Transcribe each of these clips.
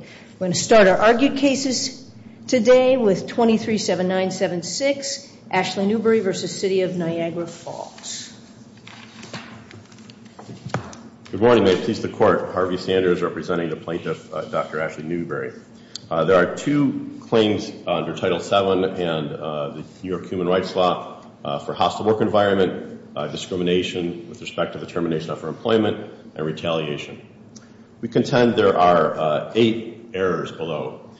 We're going to start our argued cases today with 23-7976, Ashley Newbury v. City of Niagara Falls. Good morning. May it please the Court, Harvey Sanders representing the plaintiff, Dr. Ashley Newbury. There are two claims under Title VII and the New York Human Rights Law for hostile work environment, discrimination with respect to the termination of her employment, and retaliation. We contend there are eight errors below,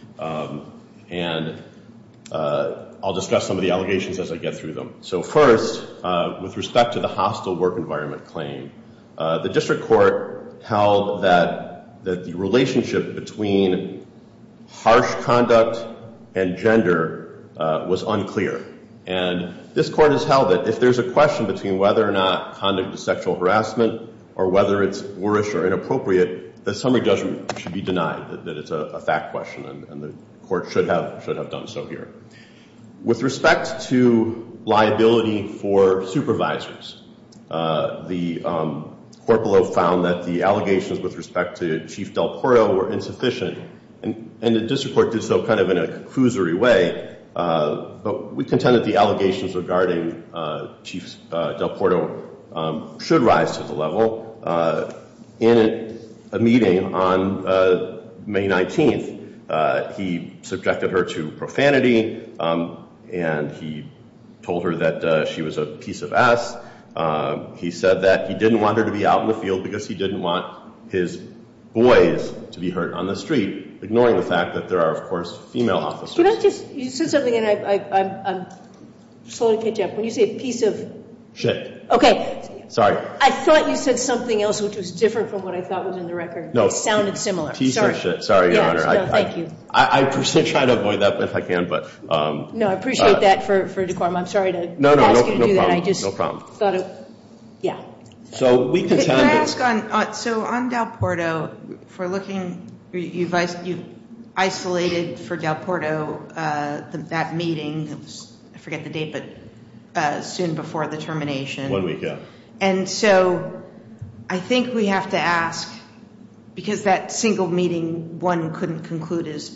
and I'll discuss some of the allegations as I get through them. So first, with respect to the hostile work environment claim, the District Court held that the relationship between harsh conduct and gender was unclear, and this Court has held that if there's a question between whether or not conduct is sexual harassment or whether it's warish or inappropriate, the summary judgment should be denied, that it's a fact question, and the Court should have done so here. With respect to liability for supervisors, the Court below found that the allegations with respect to Chief Del Porto were insufficient, and the District Court did so kind of in a But we contend that the allegations regarding Chief Del Porto should rise to the level. In a meeting on May 19th, he subjected her to profanity, and he told her that she was a piece of ass. He said that he didn't want her to be out in the field because he didn't want his boys to be hurt on the street, ignoring the fact that there are, of course, female officers. Can I just – you said something, and I'm slowly catching up. When you say a piece of shit – Okay. Sorry. I thought you said something else which was different from what I thought was in the record. No. It sounded similar. Piece of shit. Sorry, Your Honor. No, thank you. I try to avoid that if I can, but – No, I appreciate that for decorum. I'm sorry to ask you to do that. No, no, no problem. I just thought of – yeah. So we contend that – You've isolated for Del Porto that meeting. I forget the date, but soon before the termination. One weekend. And so I think we have to ask – because that single meeting, one couldn't conclude as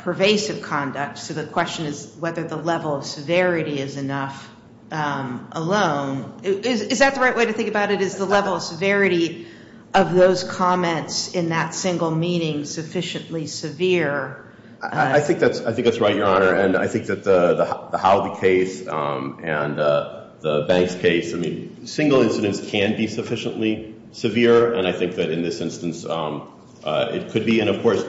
pervasive conduct, so the question is whether the level of severity is enough alone. Is that the right way to think about it? Is the level of severity of those comments in that single meeting sufficiently severe? I think that's right, Your Honor. And I think that the Howdy case and the Banks case, I mean, single incidents can be sufficiently severe. And I think that in this instance, it could be. And of course,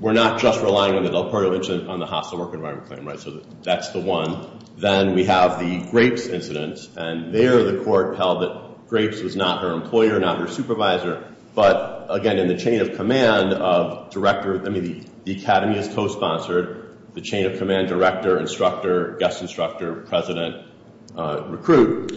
we're not just relying on the Del Porto incident on the hostile work environment claim, right? So that's the one. Then we have the Grapes incident. And there the court held that Grapes was not her employer, not her supervisor. But again, in the chain of command of director – I mean, the academy is co-sponsored. The chain of command director, instructor, guest instructor, president, recruit.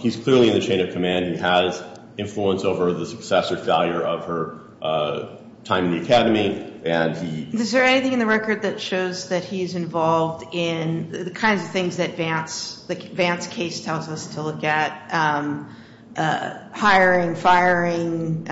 He's clearly in the chain of command. He has influence over the success or failure of her time in the academy. Is there anything in the record that shows that he's involved in the kinds of things that Vance – the Vance case tells us to look at? Hiring, firing,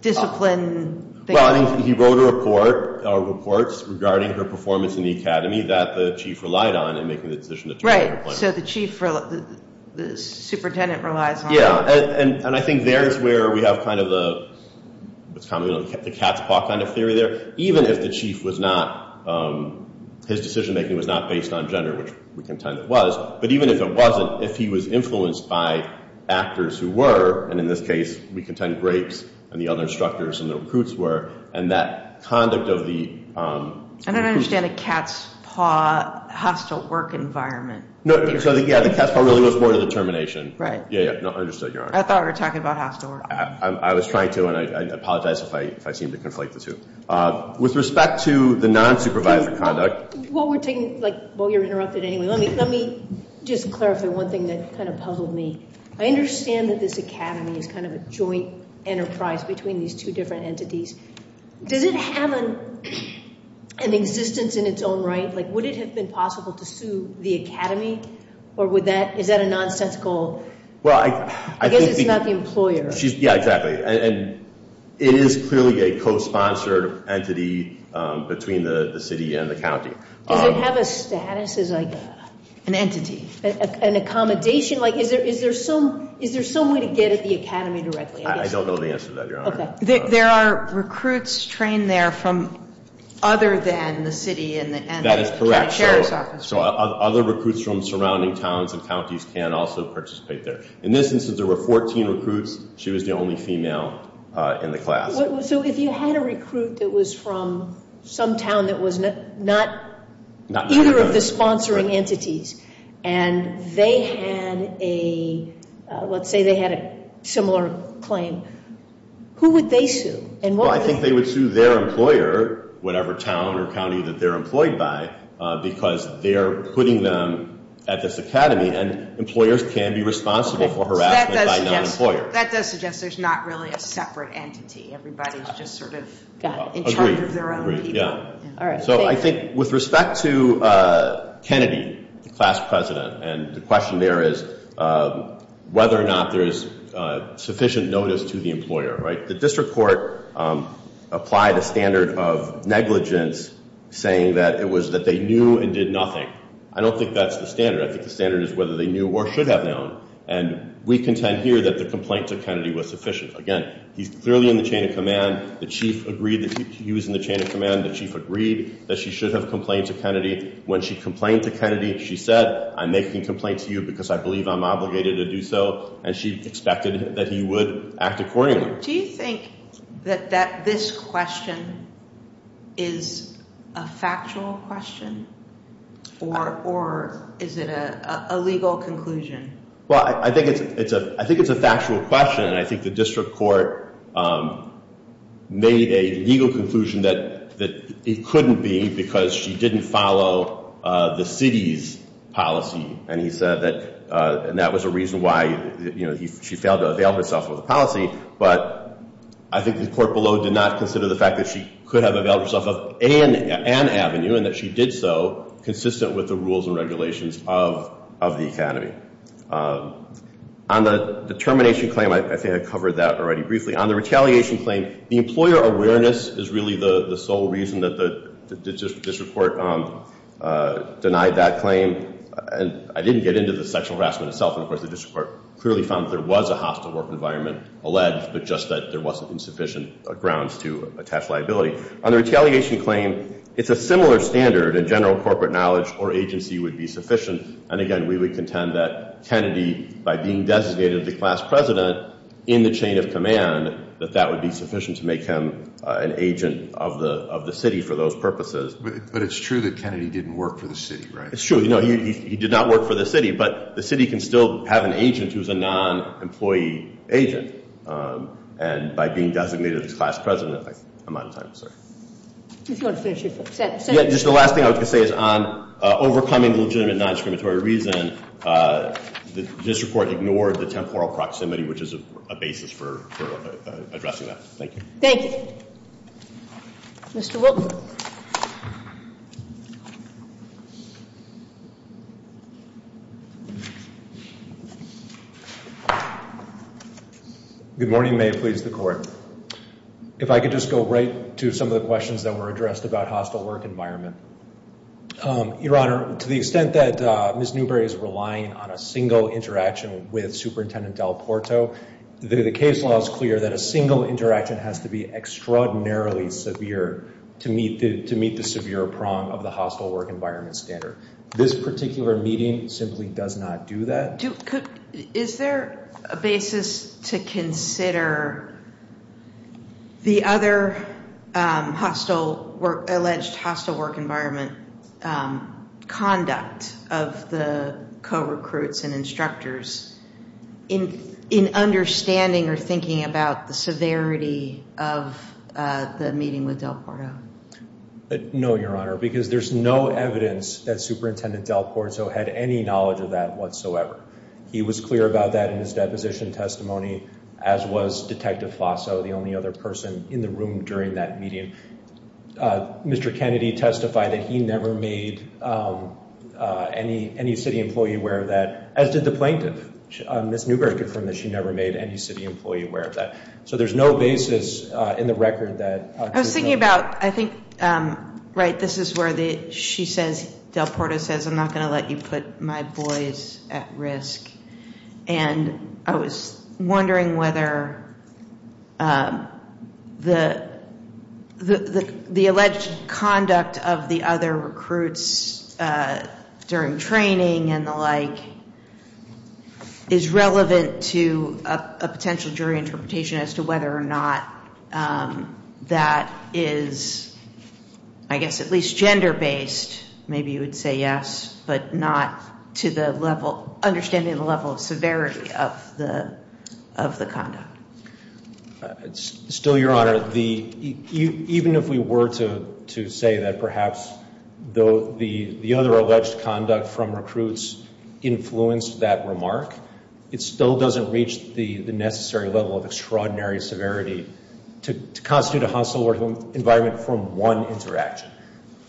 discipline? Well, I mean, he wrote a report – reports regarding her performance in the academy that the chief relied on in making the decision to terminate her claim. Right. So the chief – the superintendent relies on her. Yeah. And I think there's where we have kind of the – what's commonly known as the cat's paw kind of theory there. Even if the chief was not – his decision-making was not based on gender, which we contend it was. But even if it wasn't, if he was influenced by actors who were – and in this case, we contend Grapes and the other instructors and the recruits were. And that conduct of the – I don't understand a cat's paw hostile work environment. No, so the – yeah, the cat's paw really goes more to the termination. Right. Yeah, yeah. No, understood, Your Honor. I thought we were talking about hostile work. I was trying to, and I apologize if I seem to conflate the two. With respect to the nonsupervised conduct – Well, we're taking – like, well, you're interrupted anyway. Let me just clarify one thing that kind of puzzled me. I understand that this academy is kind of a joint enterprise between these two different entities. Does it have an existence in its own right? Like, would it have been possible to sue the academy? Or would that – is that a nonsensical – Well, I think – I guess it's not the employer. Yeah, exactly. And it is clearly a cosponsored entity between the city and the county. Does it have a status as, like, an entity? An accommodation? Like, is there some way to get at the academy directly? I don't know the answer to that, Your Honor. Okay. There are recruits trained there from other than the city and the county sheriff's office. That is correct. So other recruits from surrounding towns and counties can also participate there. In this instance, there were 14 recruits. She was the only female in the class. So if you had a recruit that was from some town that was not either of the sponsoring entities and they had a – let's say they had a similar claim, who would they sue? And what would – Well, I think they would sue their employer, whatever town or county that they're employed by, because they're putting them at this academy and employers can be responsible for harassment by non-employers. Okay. So that does suggest there's not really a separate entity. Everybody's just sort of in charge of their own people. All right. Thank you. So I think with respect to Kennedy, the class president, and the question there is whether or not there is sufficient notice to the employer, right? The district court applied a standard of negligence saying that it was that they knew and did nothing. I don't think that's the standard. I think the standard is whether they knew or should have known. And we contend here that the complaint to Kennedy was sufficient. Again, he's clearly in the chain of command. The chief agreed that he was in the chain of command. The chief agreed that she should have complained to Kennedy. When she complained to Kennedy, she said, I'm making a complaint to you because I believe I'm obligated to do so. And she expected that he would act accordingly. Do you think that this question is a factual question? Or is it a legal conclusion? Well, I think it's a factual question. And I think the district court made a legal conclusion that it couldn't be because she didn't follow the city's policy. And that was a reason why she failed to avail herself of the policy. But I think the court below did not consider the fact that she could have availed herself of an avenue and that she did so consistent with the rules and regulations of the academy. On the termination claim, I think I covered that already briefly. On the retaliation claim, the employer awareness is really the sole reason that the district court denied that claim. And I didn't get into the sexual harassment itself. And of course, the district court clearly found that there was a hostile work environment alleged, but just that there wasn't insufficient grounds to attach liability. On the retaliation claim, it's a similar standard and general corporate knowledge or agency would be sufficient. And again, we would contend that Kennedy, by being designated the class president in the chain of command, that that would be sufficient to make him an agent of the city for those purposes. But it's true that Kennedy didn't work for the city, right? It's true. No, he did not work for the city, but the city can still have an agent who's a non-employee agent. And by being designated as class president, I'm out of time, sir. If you want to finish it. Yeah, just the last thing I was going to say is on overcoming legitimate non-exclamatory reason, the district court ignored the temporal proximity, which is a basis for addressing that. Thank you. Thank you. Mr. Wilk. Good morning. May it please the court. If I could just go right to some of the questions that were addressed about hostile work environment. Your Honor, to the extent that Ms. Newberry is relying on a single interaction with Superintendent Del Porto, the case law is clear that a single interaction has to be extraordinarily severe to meet the severe prong of the hostile work environment standard. This being the case, this particular meeting simply does not do that? Is there a basis to consider the other alleged hostile work environment conduct of the co-recruits and instructors in understanding or thinking about the severity of the meeting with Del Porto? No, Your Honor, because there's no evidence that Superintendent Del Porto had any knowledge of that whatsoever. He was clear about that in his deposition testimony as was Detective Flasso, the only other person in the room during that meeting. Mr. Kennedy testified that he never made any city employee aware of that, as did the plaintiff. Ms. Newberry confirmed that she never made any city employee aware of that. So there's no basis in the record that... I was thinking about, I think, right, this is where Del Porto says, I'm not going to let you put my boys at risk. And I was wondering whether the alleged conduct of the other recruits during training and the like is relevant to a potential jury interpretation as to whether or not that is, I guess, at least gender-based, maybe you would say yes, but not to the level, understanding the level of severity of the conduct. Still, Your Honor, even if we were to say that perhaps the other alleged conduct from recruits influenced that remark, it still doesn't reach the necessary level of extraordinary severity to constitute a hostile environment from one interaction.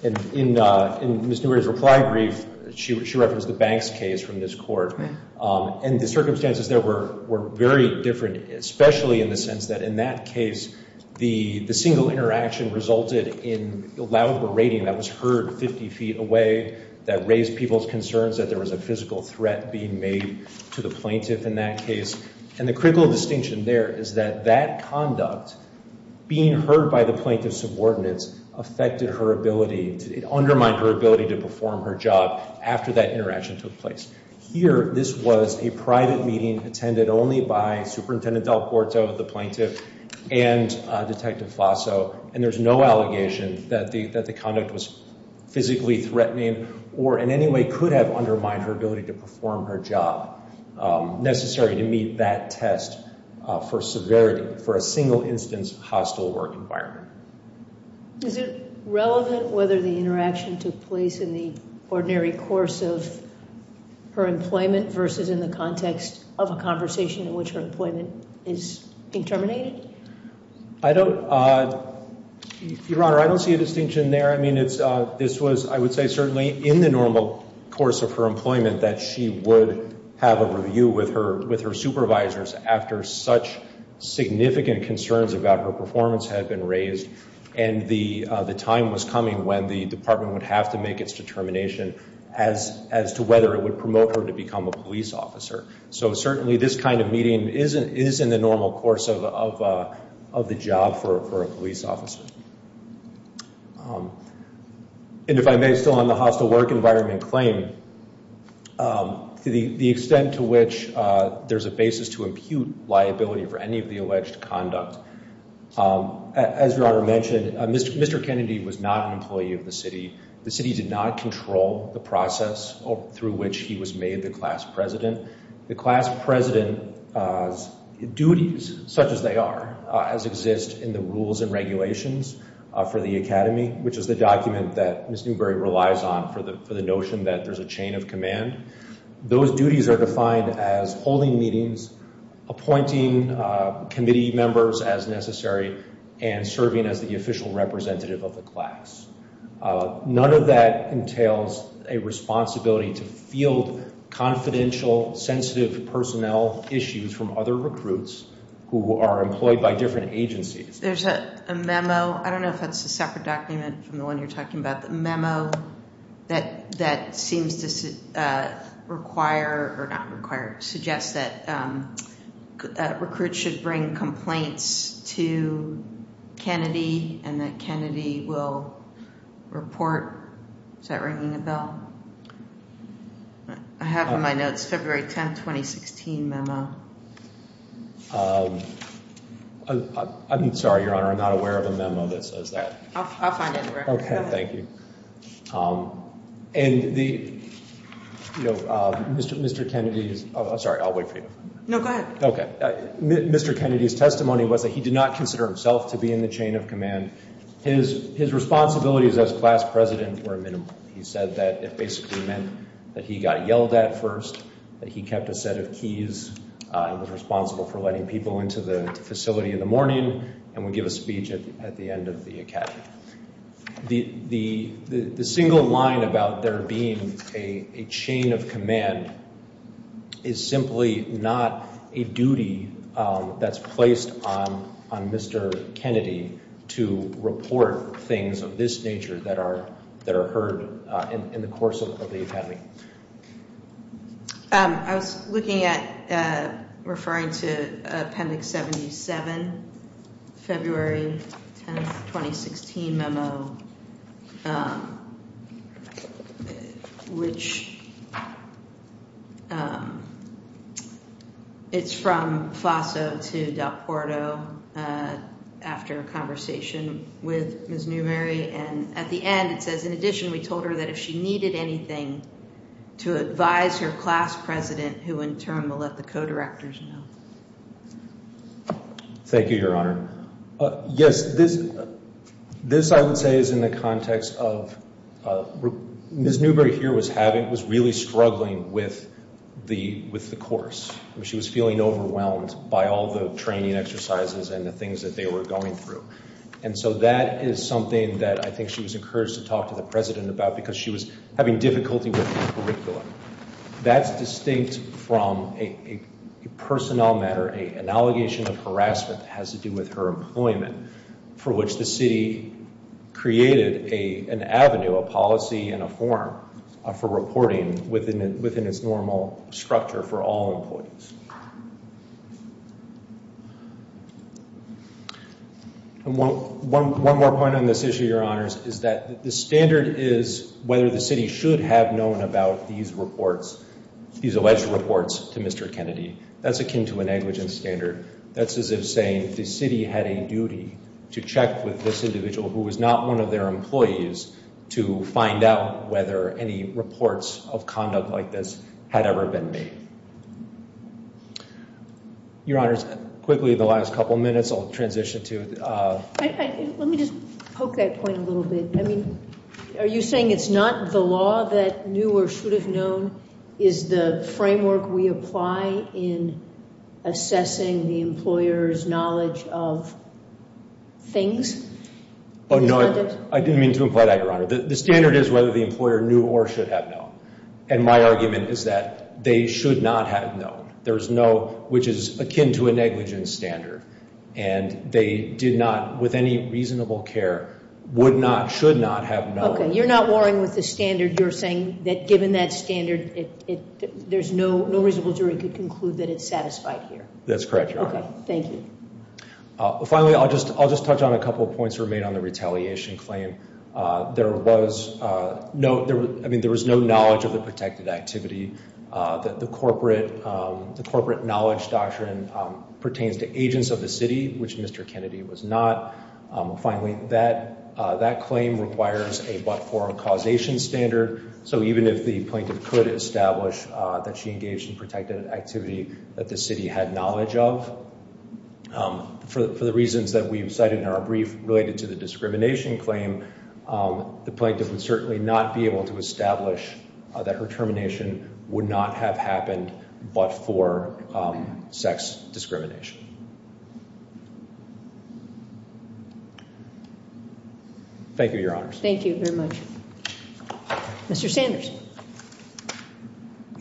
And in Ms. Newberry's reply brief, she referenced the Banks case from this court. And the circumstances there were very different, especially in the sense that in that case, the single interaction resulted in loud berating that was heard 50 feet away that raised people's concerns that there was a physical threat being made to the plaintiff in that case. And the critical distinction there is that that conduct being heard by the plaintiff's subordinates affected her ability, it undermined her ability to perform her job after that interaction took place. Here, this was a private meeting attended only by Superintendent Del Porto, the plaintiff, and Detective Flasso, and there's no allegation that the conduct was physically threatening or in any way could have undermined her ability to perform her job necessary to meet that test for severity for a single-instance hostile work environment. Is it relevant whether the interaction took place in the ordinary course of her employment versus in the context of a conversation in which her employment is being terminated? I don't... Your Honor, I don't see a distinction there. I mean, this was, I would say, certainly in the normal course of her employment that she would have a review with her supervisors after such significant concerns about her performance had been raised and the time was coming when the department would have to make its determination as to whether it would promote her to become a police officer. So, certainly, this kind of meeting is in the normal course of the job for a police officer. And if I may, still on the hostile work environment claim, the extent to which there's a basis to impute liability for any of the alleged conduct. As Your Honor mentioned, Mr. Kennedy was not an employee of the city. The city did not control the process through which he was made the class president. The class president's duties, such as they are, as exist in the rules and regulations for the Academy, which is the document that Ms. Newberry relies on for the notion that there's a chain of command, those duties are defined as holding meetings, appointing committee members as necessary, and serving as the official representative of the class. None of that entails a responsibility to field confidential, sensitive personnel issues from other recruits who are employed by different agencies. There's a memo, I don't know if it's a separate document from the one you're talking about, the memo that seems to require, or not require, suggest that recruits should bring complaints to Kennedy and that Kennedy will report Is that ringing a bell? I have on my notes February 10, 2016 memo. I'm sorry, Your Honor, I'm not aware of a memo that says that. I'll find it. Okay, thank you. And the Mr. Kennedy's Sorry, I'll wait for you. Mr. Kennedy's testimony was that he did not consider himself to be in the chain of command. His responsibilities as class president were minimal. He said that it basically meant that he got yelled at first, that he kept a set of keys and was responsible for letting people into the facility in the morning and would give a speech at the end of the academy. The single line about there being a chain of command is simply not a duty that's placed on Mr. Kennedy to report things of this nature that are heard in the course of the academy. I was looking at referring to Appendix 77 February 10, 2016 memo It's from FASO to Del Porto after a conversation with Ms. Newberry and at the end it says, in addition, we told her that if she needed anything to advise her class president, who in turn will let the co-directors know. Thank you, Your Honor. Yes, this I would say is in the context of Ms. Newberry here was really struggling with the course. She was feeling overwhelmed by all the training exercises and the things that they were going through. And so that is something that I think she was encouraged to talk to the president about because she was having difficulty with the curriculum. That's distinct from a personnel matter. An allegation of harassment has to do with her employment for which the city created an avenue, a policy and a form for reporting within its normal structure for all employees. One more point on this issue, Your Honors, is that the standard is whether the city should have known about these reports these alleged reports to Mr. Kennedy. That's akin to a negligent standard. That's as if saying the city had a duty to check with this individual who was not one of their employees to find out whether any reports of conduct like this had ever been made. Your Honors, quickly in the last couple minutes I'll transition to Let me just poke that point a little bit. Are you saying it's not the law that you knew or should have known is the framework we apply in assessing the employer's knowledge of things? Oh no, I didn't mean to imply that, Your Honor. The standard is whether the employer knew or should have known. And my argument is that they should not have known. There's no which is akin to a negligent standard and they did not with any reasonable care would not, should not have known. Okay, you're not warring with the standard. You're saying that given that standard there's no reasonable jury to conclude that it's satisfied here. That's correct, Your Honor. Finally, I'll just touch on a couple points that were made on the retaliation claim. There was no knowledge of the protected activity that the corporate knowledge doctrine pertains to agents of the city, which Mr. Kennedy was not. Finally, that claim requires a but-for causation standard so even if the plaintiff could establish that she engaged in protected activity that the city had knowledge of for the reasons that we've cited in our brief related to the discrimination claim the plaintiff would certainly not be able to establish that her termination would not have happened but for sex discrimination. Thank you, Your Honors. Thank you very much. Mr. Sanders.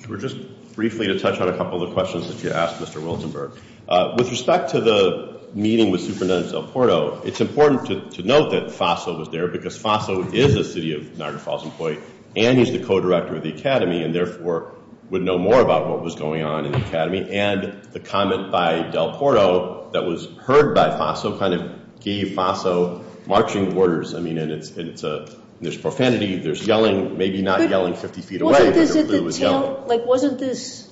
Sure, just briefly to touch on a couple of questions that you asked, Mr. Wiltenberg. With respect to the meeting with Superintendent Del Porto it's important to note that Faso was there because Faso is a City of Niagara Falls employee and he's the co-director of the Academy and therefore would know more about what was going on in the Academy and the comment by Del Porto that was heard by Faso kind of gave Faso marching orders. There's profanity, there's yelling, maybe not yelling 50 feet away. Wasn't this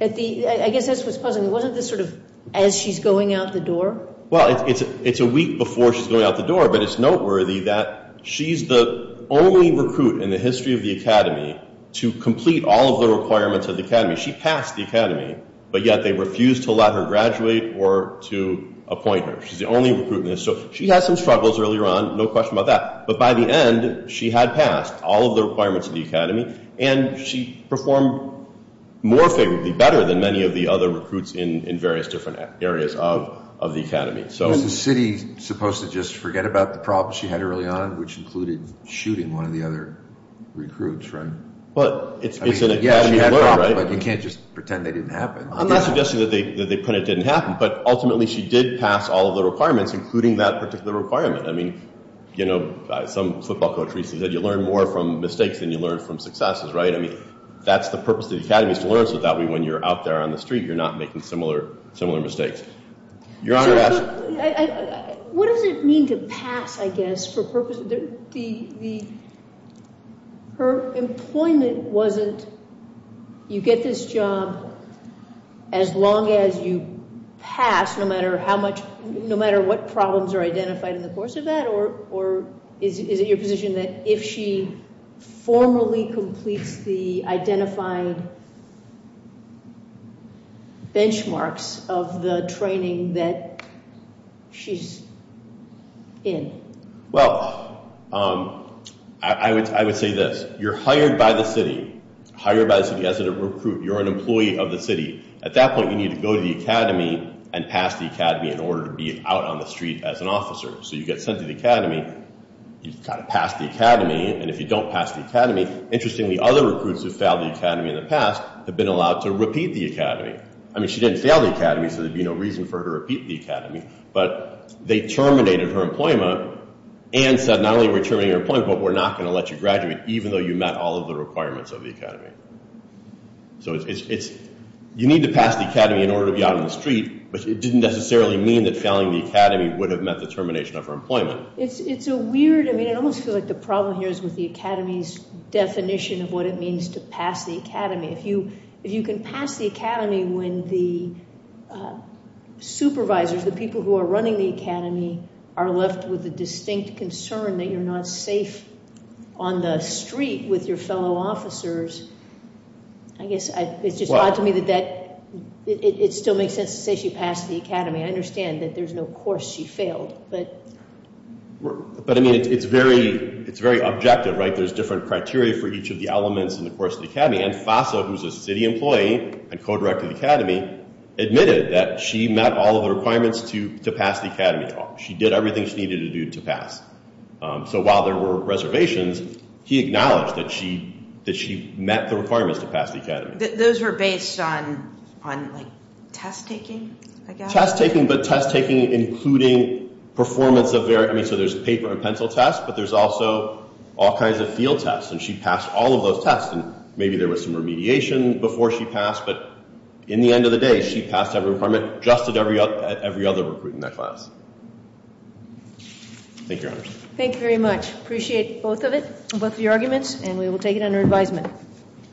at the, I guess that's what's puzzling wasn't this sort of as she's going out the door? Well, it's a week before she's going out the door but it's noteworthy that she's the only recruit in the history of the Academy to complete all of the requirements of the Academy. She passed the Academy but yet they refused to let her graduate or to appoint her. She's the only recruit in this so she had some struggles earlier on, no question about that, but by the end she had passed all of the requirements of the Academy and she performed more favorably better than many of the other recruits in various different areas of the Academy. Was the City supposed to just forget about the problems she had early on which included shooting one of the other recruits, right? Well, it's an Academy alert, right? But you can't just pretend they didn't happen. I'm not suggesting that they pretend it didn't happen but ultimately she did pass all of the requirements including that particular requirement. I mean, you know, some football coach recently said you learn more from mistakes than you learn from successes, right? That's the purpose of the Academy is to learn so that way when you're out there on the street you're not making similar mistakes. Your Honor... What does it mean to pass, I guess, for purposes... Her employment wasn't you get this job as long as you pass no matter how much no matter what problems are identified in the course of that or is it your position that if she formally completes the identified benchmarks of the training that she's in? Well, I would say this. You're hired by the city. Hired by the city as a recruit. You're an employee of the city. At that point you need to go to the Academy and pass the Academy in order to be out on the street as an officer. So you get sent to the Academy you've got to pass the Academy and if you don't pass the Academy, interestingly other recruits who failed the Academy in the past have been allowed to repeat the Academy. I mean, she didn't fail the Academy so there'd be no reason for her to repeat the Academy but they terminated her employment and said not only are we terminating your employment but we're not going to let you graduate even though you met all of the requirements of the Academy. So it's you need to pass the Academy in order to be out on the street but it didn't necessarily mean that failing the Academy would have met the termination of her employment. It's a weird I mean, I almost feel like the problem here is with the Academy's definition of what it means to pass the Academy. If you can pass the Academy when the supervisors, the people who are running the Academy are left with a distinct concern that you're not safe on the street with your fellow officers, I guess it's just odd to me that that it still makes sense to say she passed the Academy. I understand that there's no course she failed but But I mean, it's very it's very objective, right? There's different criteria for each of the elements in the course of the Academy and FASA, who's a city employee and co-director of the Academy admitted that she met all of the requirements to pass the Academy. She did everything she needed to do to pass. So while there were reservations, he acknowledged that she met the requirements to pass the Academy. Those were based on test taking? Test taking, but test taking including performance of their, I mean, so there's paper and pencil tests but there's also all kinds of field tests and she passed all of those tests and maybe there was some remediation before she passed, but in the end of the day she passed every requirement just as every other recruit in that class. Thank you, Your Honor. Thank you very much. Appreciate both of it both of your arguments and we will take it under advisement.